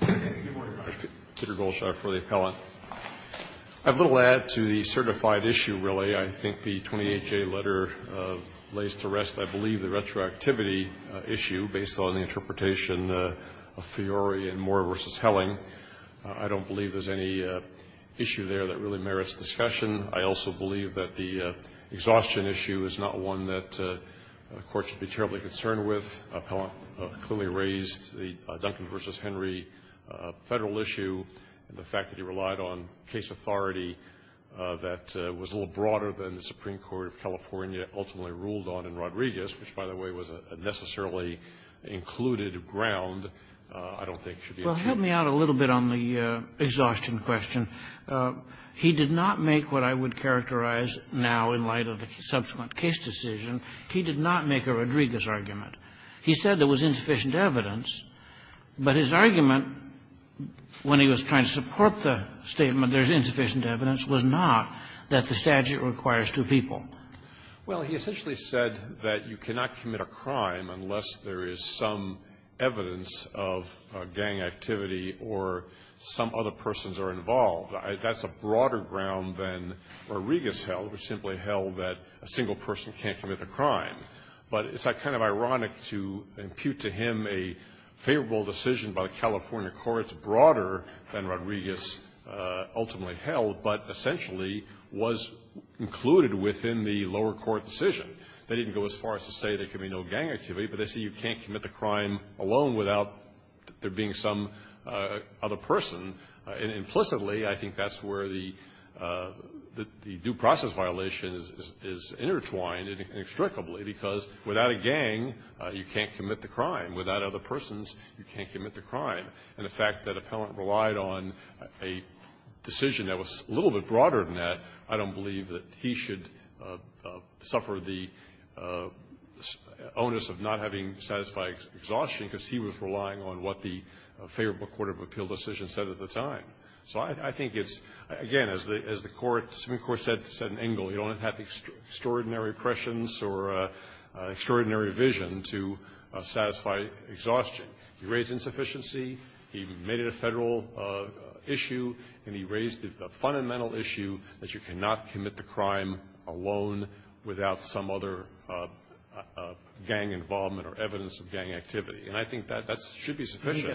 Good morning, Your Honor. Peter Goldschar for the Appellant. I have little to add to the certified issue really. I think the 28-J letter lays to rest I believe the retroactivity issue based on the interpretation of Fiori and Moore v. Helling. I don't believe there's any issue there that really merits discussion. I also believe that the exhaustion issue is not one that court should be terribly concerned with. The Appellant clearly raised the Duncan v. Henry federal issue and the fact that he relied on case authority that was a little broader than the Supreme Court of California ultimately ruled on in Rodriguez, which, by the way, was a necessarily included ground I don't think should be attributed to the Supreme Court of California. Well, help me out a little bit on the exhaustion question. He did not make what I would characterize now in light of the subsequent case decision. He did not make a Rodriguez argument. He said there was insufficient evidence, but his argument when he was trying to support the statement there's insufficient evidence was not that the statute requires two people. Well, he essentially said that you cannot commit a crime unless there is some evidence of gang activity or some other persons are involved. That's a broader ground than Rodriguez held, which simply held that a single person can't commit the crime. But it's kind of ironic to impute to him a favorable decision by the California courts broader than Rodriguez ultimately held, but essentially was included within the lower court decision. They didn't go as far as to say there can be no gang activity, but they say you can't commit the crime alone without there being some other person. And implicitly, I think that's where the due process violation is intertwined inextricably, because without a gang, you can't commit the crime. Without other persons, you can't commit the crime. And the fact that Appellant relied on a decision that was a little bit broader than that, I don't believe that he should suffer the onus of not having satisfied exhaustion because he was relying on what the favorable court of appeal decision said at the time. So I think it's, again, as the court, the Supreme Court said in Engel, you don't have the extraordinary prescience or extraordinary vision to satisfy exhaustion. He raised insufficiency, he made it a Federal issue, and he raised the fundamental issue that you cannot commit the crime alone without some other gang involvement or evidence of gang activity. And I think that that should be sufficient.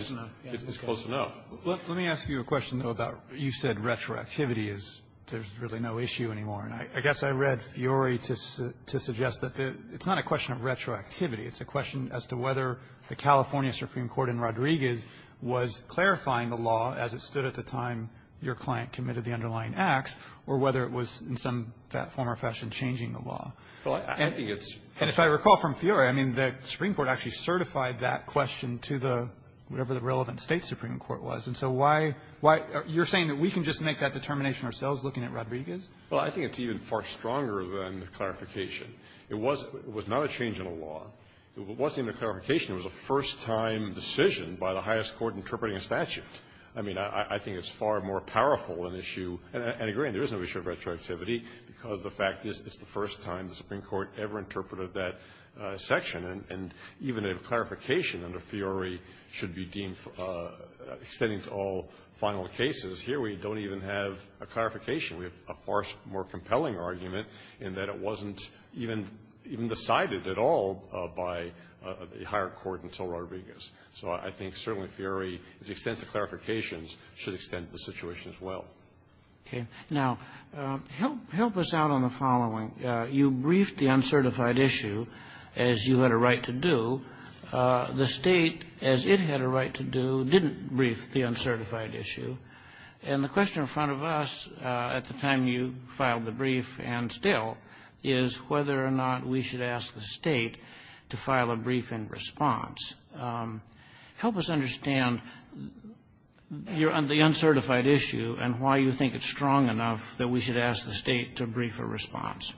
It's close enough. Roberts. Let me ask you a question, though, about you said retroactivity is there's really no issue anymore. And I guess I read Fiori to suggest that it's not a question of retroactivity. It's a question as to whether the California Supreme Court in Rodriguez was clarifying the law as it stood at the time your client committed the underlying acts or whether it was in some form or fashion changing the law. And if I recall from Fiori, I mean, the Supreme Court actually certified that question to the, whatever the relevant State Supreme Court was. And so why you're saying that we can just make that determination ourselves looking at Rodriguez? Well, I think it's even far stronger than the clarification. It was not a change in the law. It wasn't even a clarification. It was a first-time decision by the highest court interpreting a statute. I mean, I think it's far more powerful an issue. And I agree, there is no issue of retroactivity because the fact is it's the first time the Supreme Court ever interpreted that section. And even a clarification under Fiori should be deemed extending to all final cases. Here we don't even have a clarification. We have a far more compelling argument in that it wasn't even decided at all by the higher court until Rodriguez. So I think certainly Fiori, to the extent of the clarifications, should extend the situation as well. Okay. Now, help us out on the following. You briefed the uncertified issue, as you had a right to do. The State, as it had a right to do, didn't brief the uncertified issue. And the question in front of us at the time you filed the brief and still is whether or not we should ask the State to file a briefing response. Help us understand the uncertified issue and why you think it's strong enough that we should ask the State to brief a response.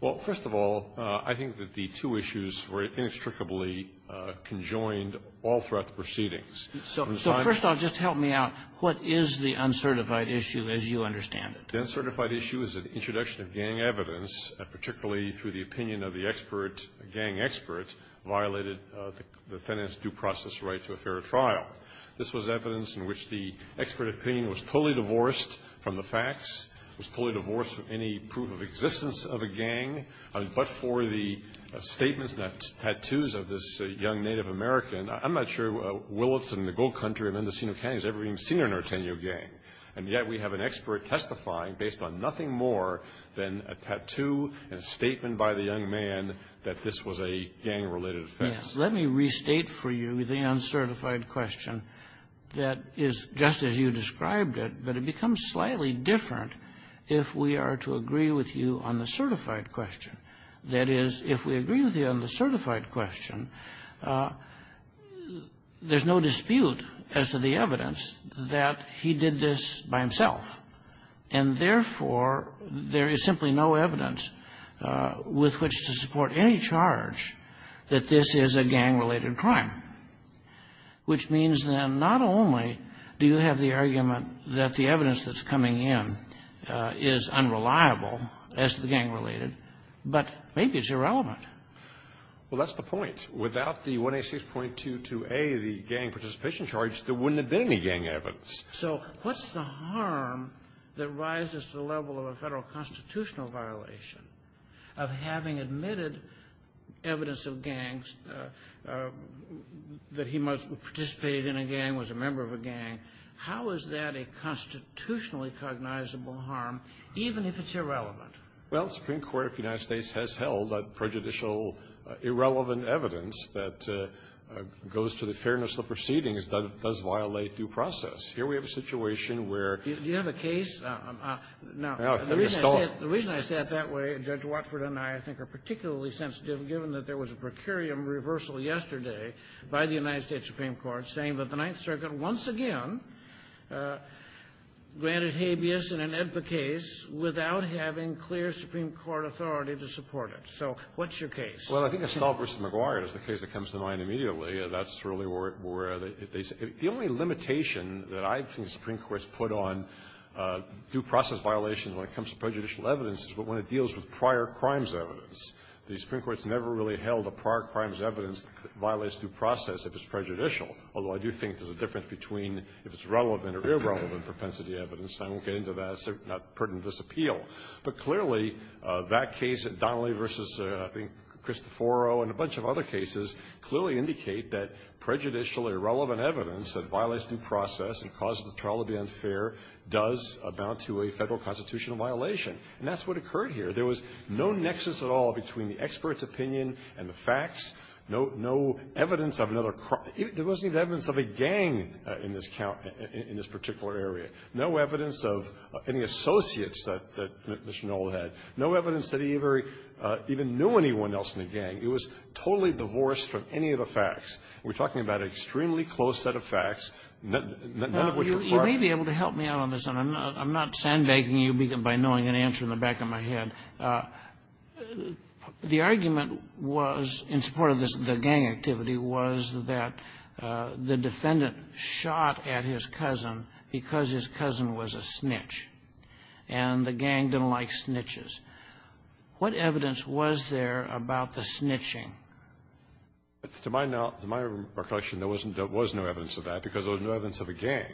Well, first of all, I think that the two issues were inextricably conjoined all throughout the proceedings. So first of all, just help me out. What is the uncertified issue as you understand it? The uncertified issue is an introduction of gang evidence, particularly through the opinion of the expert, a gang expert, violated the defendant's due process right to a fair trial. This was evidence in which the expert opinion was fully divorced from the facts, was fully divorced from any proof of existence of a gang, but for the statements and the tattoos of this young Native American, I'm not sure Williston, the gold country of Mendocino County has ever seen a Norteno gang, and yet we have an expert testifying based on nothing more than a tattoo and a statement by the young man that this was a gang-related offense. Let me restate for you the uncertified question that is just as you described it, but it becomes slightly different if we are to agree with you on the certified question. That is, if we agree with you on the certified question, there's no dispute as to the evidence that he did this by himself, and therefore, there is simply no evidence with which to support any charge that this is a gang-related crime, which means then not only do you have the argument that the evidence that's coming in is unreliable as to the gang-related, but maybe it's irrelevant. Well, that's the point. Without the 1A6.22a, the gang participation charge, there wouldn't have been any gang evidence. So what's the harm that rises to the level of a Federal constitutional violation of having admitted evidence of gangs, that he must have participated in a gang, was a member of a gang, how is that a constitutionally cognizable harm, even if it's irrelevant? Well, the Supreme Court of the United States has held that prejudicial, irrelevant evidence that goes to the fairness of the proceedings does violate due process. Here we have a situation where you have a case of the reason I say it that way, Judge Watford and I, I think, are particularly sensitive, given that there was a procurium reversal yesterday by the United States Supreme Court saying that the Ninth Circuit once again granted habeas in an AEDPA case without having clear Supreme Court authority to support it. So what's your case? Well, I think Estella v. McGuire is the case that comes to mind immediately. That's really where they say the only limitation that I think the Supreme Court's put on due process violations when it comes to prejudicial evidence is when it deals with prior crimes evidence. The Supreme Court's never really held a prior crimes evidence violates due process if it's prejudicial, although I do think there's a difference between if it's relevant or irrelevant propensity evidence, and I won't get into that, it's not pertinent to this appeal. But clearly, that case, Donnelly v. I think Cristoforo and a bunch of other cases, clearly indicate that prejudicial, irrelevant evidence that violates due process and causes the trial to be unfair does amount to a Federal constitutional violation. And that's what occurred here. There was no nexus at all between the expert's opinion and the facts, no evidence of another crime. There wasn't even evidence of a gang in this particular area. No evidence of any associates that Mr. Knoll had. No evidence that he even knew anyone else in the gang. He was totally divorced from any of the facts. We're talking about an extremely close set of facts, none of which were part of the case. You may be able to help me out on this, and I'm not sandbagging you by knowing an answer in the back of my head. The argument was, in support of the gang activity, was that the defendant shot at his cousin because his cousin was a snitch, and the gang didn't like snitches. What evidence was there about the snitching? To my knowledge, to my recollection, there wasn't no evidence of that because there was no evidence of a gang.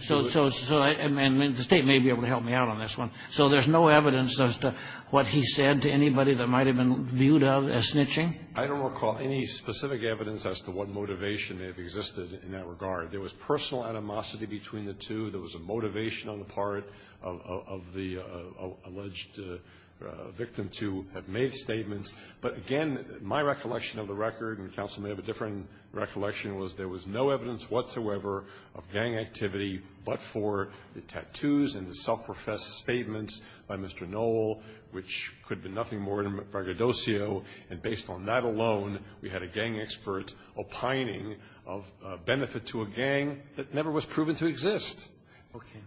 So the State may be able to help me out on this one. So there's no evidence as to what he said to anybody that might have been viewed of as snitching? I don't recall any specific evidence as to what motivation may have existed in that regard. There was personal animosity between the two. There was a motivation on the part of the alleged victim to have made statements. But again, my recollection of the record, and counsel may have a different recollection, was there was no evidence whatsoever of gang activity but for the tattoos and the self-professed statements by Mr. Knoll, which could be nothing more than braggadocio. And based on that alone, we had a gang expert opining of benefit to a gang that never was proven to exist. Okay.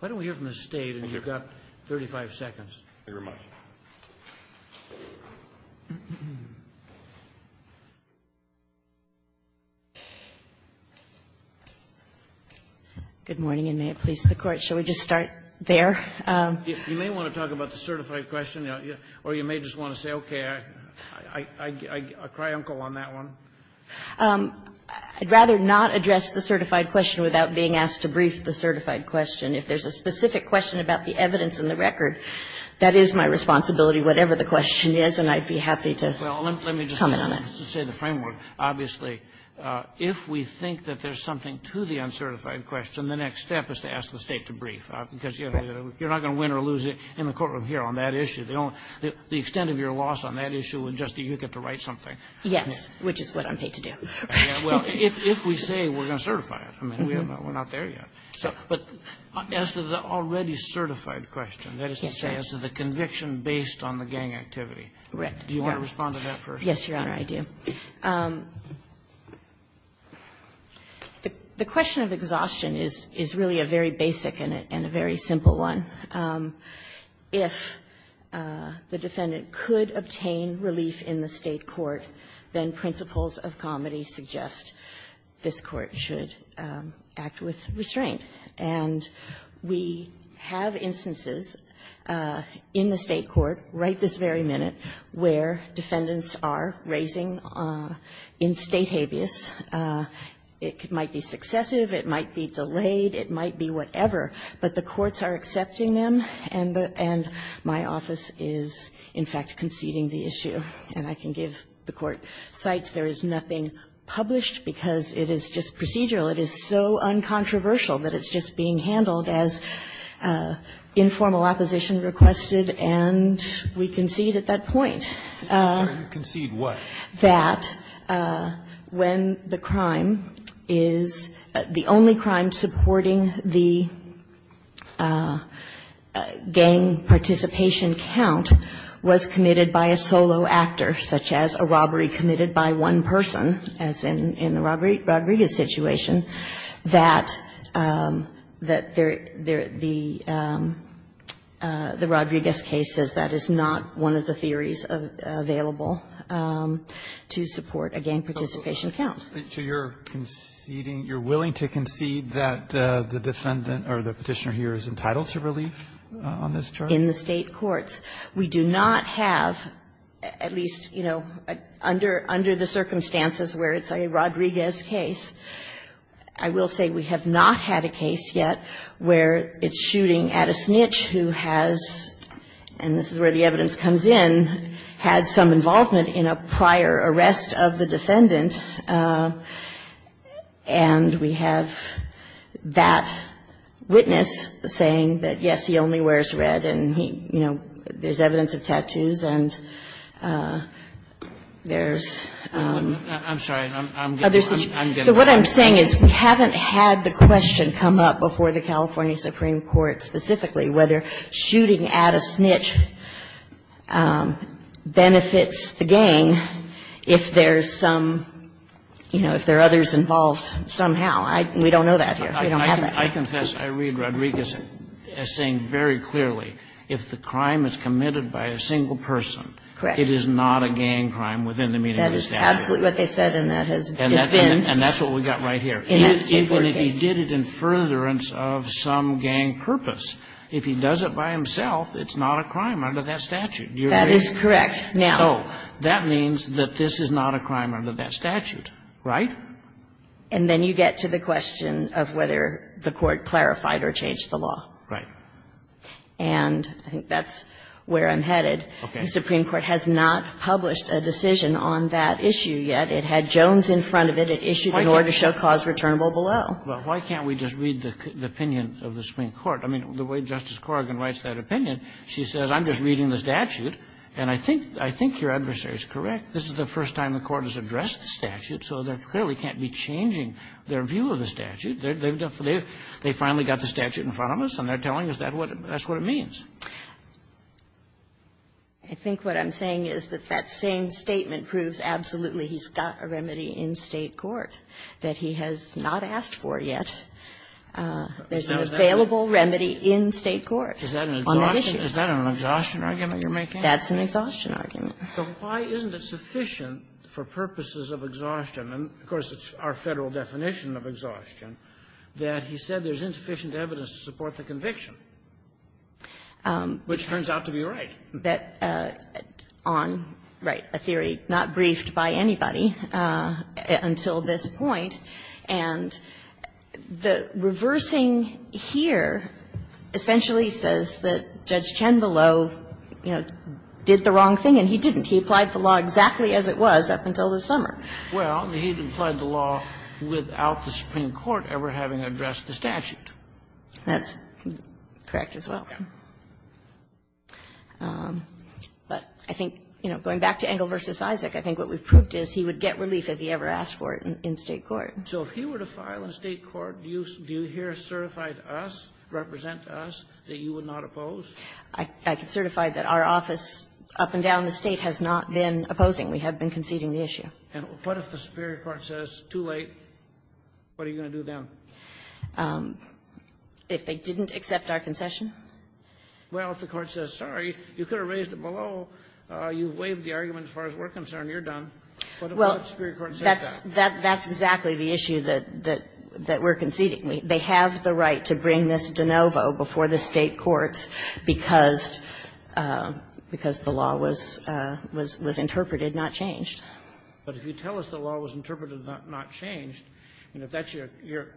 Why don't we hear from the State, and you've got 35 seconds. Thank you very much. Good morning, and may it please the Court. Shall we just start there? You may want to talk about the certified question, or you may just want to say, okay, I cry uncle on that one. I'd rather not address the certified question without being asked to brief the certified question. If there's a specific question about the evidence in the record, that is my responsibility, whatever the question is, and I'd be happy to comment on that. Well, let me just say the framework. Obviously, if we think that there's something to the uncertified question, the next step is to ask the State to brief, because you're not going to win or lose in the courtroom here on that issue. The extent of your loss on that issue would just be you get to write something. Yes, which is what I'm paid to do. Well, if we say we're going to certify it, I mean, we're not there yet. But as to the already certified question, that is to say, as to the conviction based on the gang activity. Do you want to respond to that first? Yes, Your Honor, I do. The question of exhaustion is really a very basic and a very simple one. If the defendant could obtain relief in the State court, then principles of comity suggest this Court should act with restraint. And we have instances in the State court right this very minute where defendants are raising in State habeas. It might be successive, it might be delayed, it might be whatever, but the courts are accepting them, and the end, my office is, in fact, conceding the issue. And I can give the Court cites. There is nothing published because it is just procedural. It is so uncontroversial that it's just being handled as informal opposition requested, and we concede at that point. I'm sorry, you concede what? That when the crime is the only crime supporting the gang participation count was committed by a solo actor, such as a robbery committed by one person, as in the Rodriguez situation, that the Rodriguez case says that is not one of the cases that is available to support a gang participation count. So you're conceding, you're willing to concede that the defendant or the Petitioner here is entitled to relief on this charge? In the State courts. We do not have, at least, you know, under the circumstances where it's a Rodriguez case, I will say we have not had a case yet where it's shooting at a snitch who has and this is where the evidence comes in, had some involvement in a prior arrest of the defendant, and we have that witness saying that, yes, he only wears red, and he, you know, there's evidence of tattoos, and there's, I'm sorry, I'm getting the question. So what I'm saying is we haven't had the question come up before the California Supreme Court specifically whether shooting at a snitch benefits the gang if there's some, you know, if there are others involved somehow. We don't know that here. We don't have that. I confess, I read Rodriguez as saying very clearly, if the crime is committed by a single person, it is not a gang crime within the meaning of the statute. That is absolutely what they said, and that has been. And that's what we've got right here. Even if he did it in furtherance of some gang purpose, if he does it by himself, it's not a crime under that statute. You're right. That is correct. Now. So that means that this is not a crime under that statute, right? And then you get to the question of whether the Court clarified or changed the law. Right. And I think that's where I'm headed. Okay. The Supreme Court has not published a decision on that issue yet. It had Jones in front of it. It issued an order to show cause returnable below. Well, why can't we just read the opinion of the Supreme Court? I mean, the way Justice Corrigan writes that opinion, she says, I'm just reading the statute. And I think your adversary is correct. This is the first time the Court has addressed the statute, so they clearly can't be changing their view of the statute. They finally got the statute in front of us, and they're telling us that's what it means. I think what I'm saying is that that same statement proves absolutely he's got a remedy in State court that he has not asked for yet. There's an available remedy in State court on that issue. Is that an exhaustion argument you're making? That's an exhaustion argument. But why isn't it sufficient for purposes of exhaustion? And, of course, it's our Federal definition of exhaustion, that he said there's insufficient evidence to support the conviction, which turns out to be right. Kagan, I'm sorry, but I'm not going to bet on, right, a theory not briefed by anybody until this point, and the reversing here essentially says that Judge Chenvillot did the wrong thing, and he didn't. He applied the law exactly as it was up until this summer. Well, he applied the law without the Supreme Court ever having addressed the statute. That's correct as well. But I think, you know, going back to Engle v. Isaac, I think what we've proved is he would get relief if he ever asked for it in State court. So if he were to file in State court, do you hear certified us, represent us, that you would not oppose? I can certify that our office up and down the State has not been opposing. We have been conceding the issue. And what if the Superior Court says, too late, what are you going to do then? If they didn't accept our concession? Well, if the Court says, sorry, you could have raised it below. You've waived the argument as far as we're concerned. You're done. But what if the Superior Court says that? Well, that's exactly the issue that we're conceding. They have the right to bring this de novo before the State courts because the law was interpreted, not changed. But if you tell us the law was interpreted, not changed, and if that's your concern,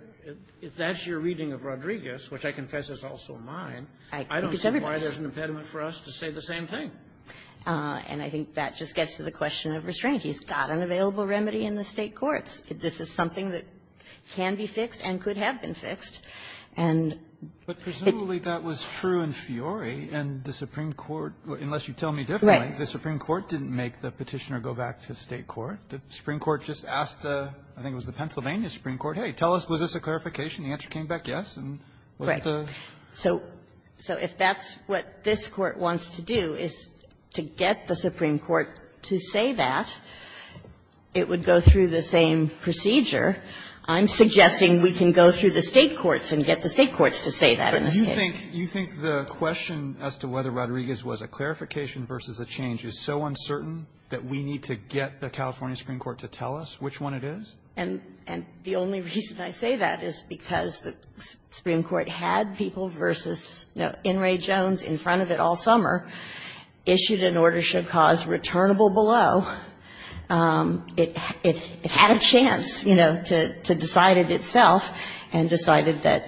if that's your reading of Rodriguez, which I confess is also mine, I don't see why there's an impediment for us to say the same thing. And I think that just gets to the question of restraint. He's got an available remedy in the State courts. This is something that can be fixed and could have been fixed. And it was true in Fiori and the Supreme Court, unless you tell me differently, the Supreme Court didn't make the Petitioner go back to State court. The Supreme Court just asked the, I think it was the Pennsylvania Supreme Court, hey, tell us, was this a clarification? The answer came back yes, and wasn't it a ---- Right. So if that's what this Court wants to do, is to get the Supreme Court to say that, it would go through the same procedure. I'm suggesting we can go through the State courts and get the State courts to say that in this case. But you think the question as to whether Rodriguez was a clarification versus a change is so uncertain that we need to get the California Supreme Court to tell us which one it is? And the only reason I say that is because the Supreme Court had people versus In re Jones in front of it all summer, issued an order should cause returnable below. It had a chance, you know, to decide it itself and decided that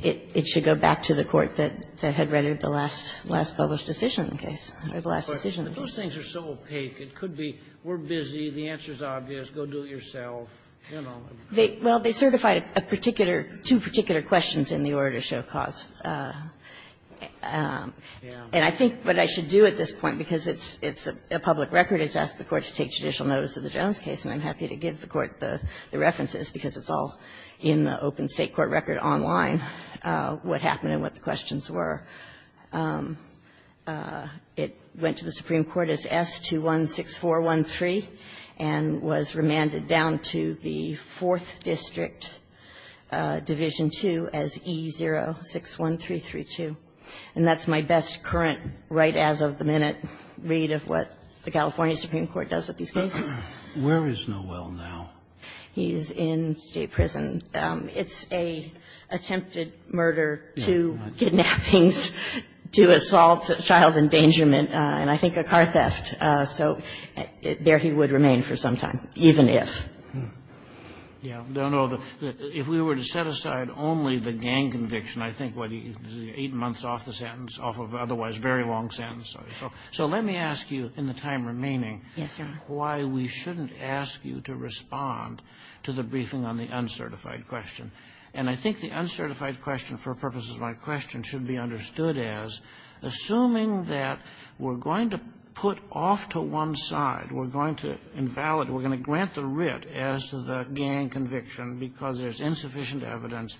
it should go back to the court that had readied the last published decision in the case, or the last decision in the case. But those things are so opaque, it could be we're busy, the answer is obvious, go do it yourself, you know. Well, they certified a particular, two particular questions in the order to show cause. And I think what I should do at this point, because it's a public record, is ask the Court to take judicial notice of the Jones case, and I'm happy to give the Court the references, because it's all in the open State court record online, what happened and what the questions were. It went to the Supreme Court as S-216413 and was remanded down to the 4th District Division II as E-061332. And that's my best current right as of the minute read of what the California Supreme Court does with these cases. Scalia. Where is Noel now? He's in state prison. It's an attempted murder, two kidnappings, two assaults, a child endangerment, and I think a car theft. So there he would remain for some time, even if. Yeah. No, no. If we were to set aside only the gang conviction, I think what he did was 8 months off the sentence, off of otherwise very long sentences. So let me ask you in the time remaining why we shouldn't ask you to respond to the uncertified question. And I think the uncertified question, for purposes of my question, should be understood as, assuming that we're going to put off to one side, we're going to invalid, we're going to grant the writ as to the gang conviction because there's insufficient evidence,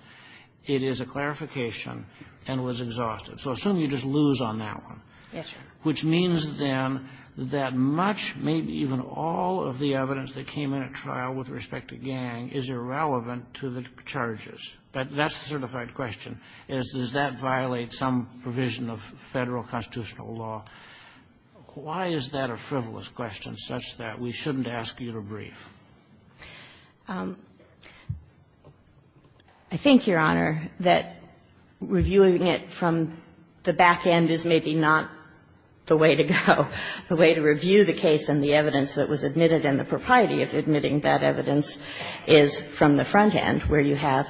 it is a clarification, and was exhausted. So assume you just lose on that one. Yes, Your Honor. Which means, then, that much, maybe even all of the evidence that came in at trial with respect to gang is irrelevant to the charges. But that's the certified question, is does that violate some provision of Federal constitutional law? Why is that a frivolous question such that we shouldn't ask you to brief? I think, Your Honor, that reviewing it from the back end is maybe not the way to go, the way to review the case and the evidence that was admitted and the propriety of admitting that evidence is from the front end, where you have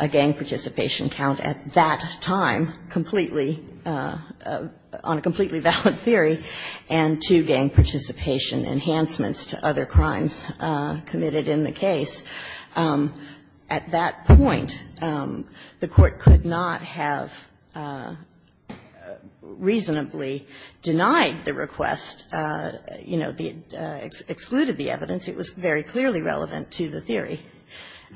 a gang participation count at that time, completely, on a completely valid theory, and two gang participation enhancements to other crimes committed in the case. At that point, the Court could not have reasonably denied the request, you know, excluded the evidence. It was very clearly relevant to the theory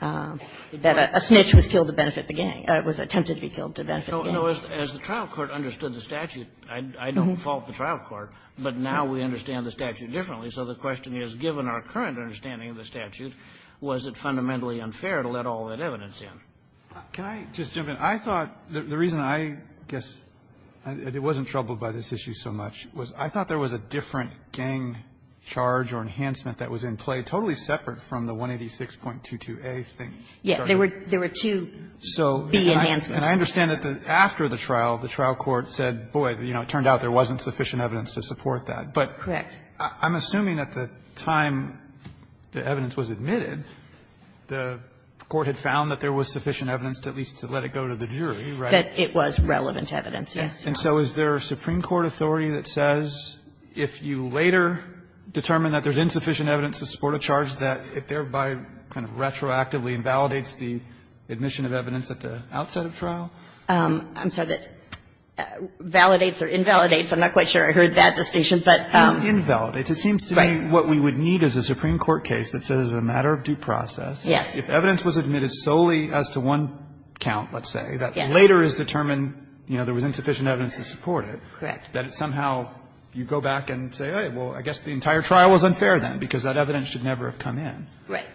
that a snitch was killed to benefit the gang, was attempted to be killed to benefit the gang. No, as the trial court understood the statute, I don't fault the trial court, but now we understand the statute differently. So the question is, given our current understanding of the statute, was it fundamentally unfair to let all that evidence in? Can I just jump in? I thought the reason I guess it wasn't troubled by this issue so much was I thought there was a different gang charge or enhancement that was in play, totally separate from the 186.22a thing. Yeah, there were two B enhancements. And I understand that after the trial, the trial court said, boy, you know, it turned out there wasn't sufficient evidence to support that. But I'm assuming at the time the evidence was admitted, the Court had found that there was sufficient evidence to at least let it go to the jury, right? That it was relevant evidence, yes. And so is there a Supreme Court authority that says if you later determine that there's insufficient evidence to support a charge, that it thereby kind of retroactively invalidates the admission of evidence at the outset of trial? I'm sorry, that validates or invalidates. I'm not quite sure I heard that distinction, but you're right. Invalidates. It seems to me what we would need is a Supreme Court case that says as a matter of due process, if evidence was admitted solely as to one count, let's say, that later is determined, you know, there was insufficient evidence to support it. Correct. That it somehow, you go back and say, hey, well, I guess the entire trial was unfair then, because that evidence should never have come in. Right.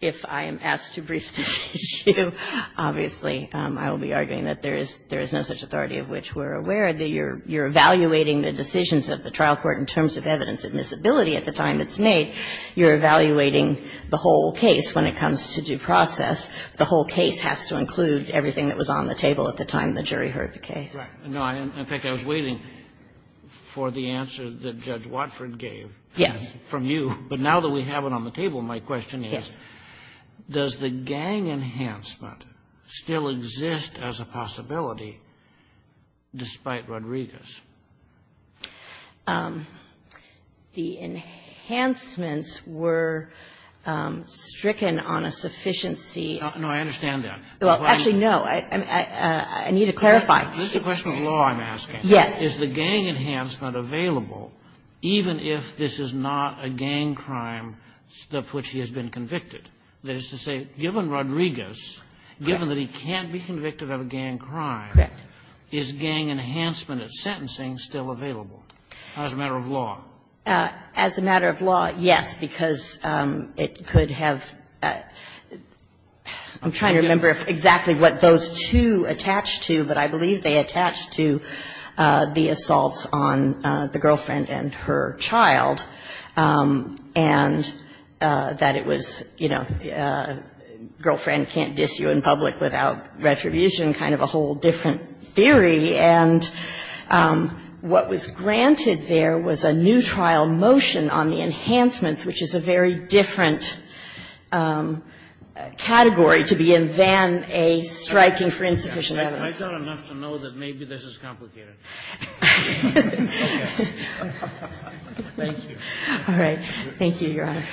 If I am asked to brief this issue, obviously, I will be arguing that there is no such authority of which we're aware. You're evaluating the decisions of the trial court in terms of evidence admissibility at the time it's made. You're evaluating the whole case when it comes to due process. The whole case has to include everything that was on the table at the time the jury heard the case. Right. In fact, I was waiting for the answer that Judge Watford gave from you, but now that we have it on the table, my question is, does the gang enhancement still exist as a possibility despite Rodriguez? The enhancements were stricken on a sufficiency. No, I understand that. Well, actually, no. I need to clarify. This is a question of law I'm asking. Yes. Is the gang enhancement available even if this is not a gang crime of which he has been convicted? That is to say, given Rodriguez, given that he can't be convicted of a gang crime, Correct. is the gang enhancement of sentencing still available as a matter of law? As a matter of law, yes, because it could have ‑‑ I'm trying to remember exactly what those two attach to, but I believe they attach to the assaults on the girlfriend and her child. And that it was, you know, girlfriend can't diss you in public without retribution, kind of a whole different theory. And what was granted there was a new trial motion on the enhancements, which is a very different category to be in than a striking for insufficient evidence. I thought enough to know that maybe this is complicated. Thank you. All right. Thank you, Your Honor.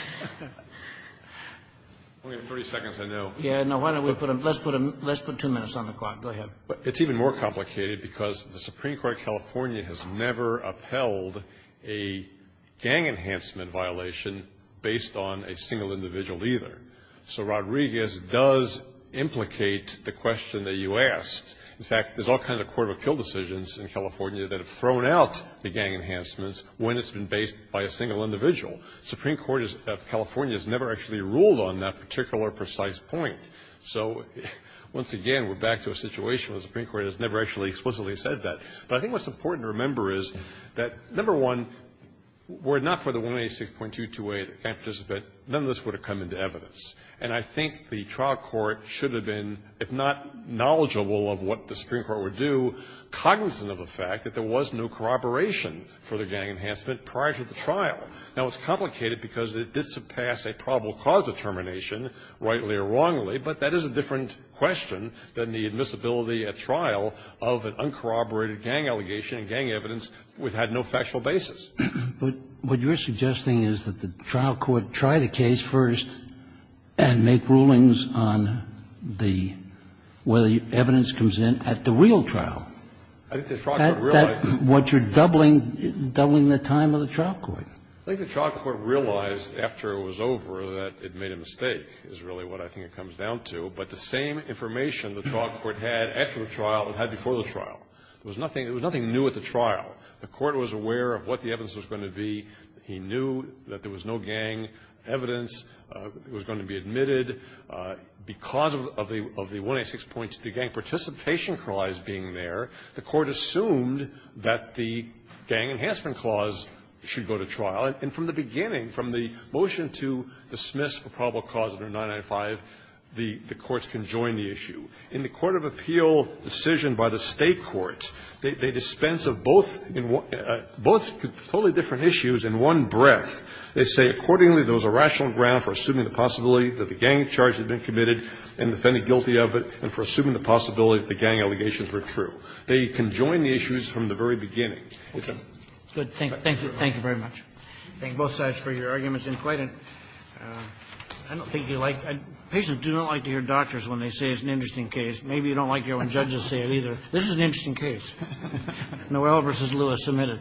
We have 30 seconds, I know. Let's put two minutes on the clock. Go ahead. It's even more complicated because the Supreme Court of California has never upheld a gang enhancement violation based on a single individual either. So Rodriguez does implicate the question that you asked. In fact, there's all kinds of court of appeal decisions in California that have thrown out the gang enhancements when it's been based by a single individual. The Supreme Court of California has never actually ruled on that particular precise point. So once again, we're back to a situation where the Supreme Court has never actually explicitly said that. But I think what's important to remember is that, number one, were it not for the 186.228, none of this would have come into evidence. And I think the trial court should have been, if not knowledgeable of what the Supreme Court would do, cognizant of the fact that there was no corroboration for the gang enhancement prior to the trial. Now, it's complicated because it did surpass a probable cause determination, rightly or wrongly, but that is a different question than the admissibility at trial of an uncorroborated gang allegation and gang evidence which had no factual basis. But what you're suggesting is that the trial court try the case first and make rulings on the where the evidence comes in at the real trial. I think the trial court realized that. What you're doubling, doubling the time of the trial court. I think the trial court realized after it was over that it made a mistake, is really what I think it comes down to. But the same information the trial court had after the trial, it had before the trial. There was nothing new at the trial. The court was aware of what the evidence was going to be. He knew that there was no gang evidence that was going to be admitted. Because of the 186.22 gang participation clause being there, the court assumed that the gang enhancement clause should go to trial. And from the beginning, from the motion to dismiss the probable cause under 995, the courts can join the issue. In the court of appeal decision by the State court, they dispense of both in one – both totally different issues in one breath. They say, accordingly, there was a rational ground for assuming the possibility that the gang charge had been committed and defended guilty of it and for assuming the possibility that the gang allegations were true. They can join the issues from the very beginning. It's a fact of the law. Robertson Thank you very much. I thank both sides for your arguments. And quite an – I don't think you like – patients do not like to hear doctors when they say it's an interesting case. Maybe you don't like to hear when judges say it either. This is an interesting case. Noel v. Lewis, submitted.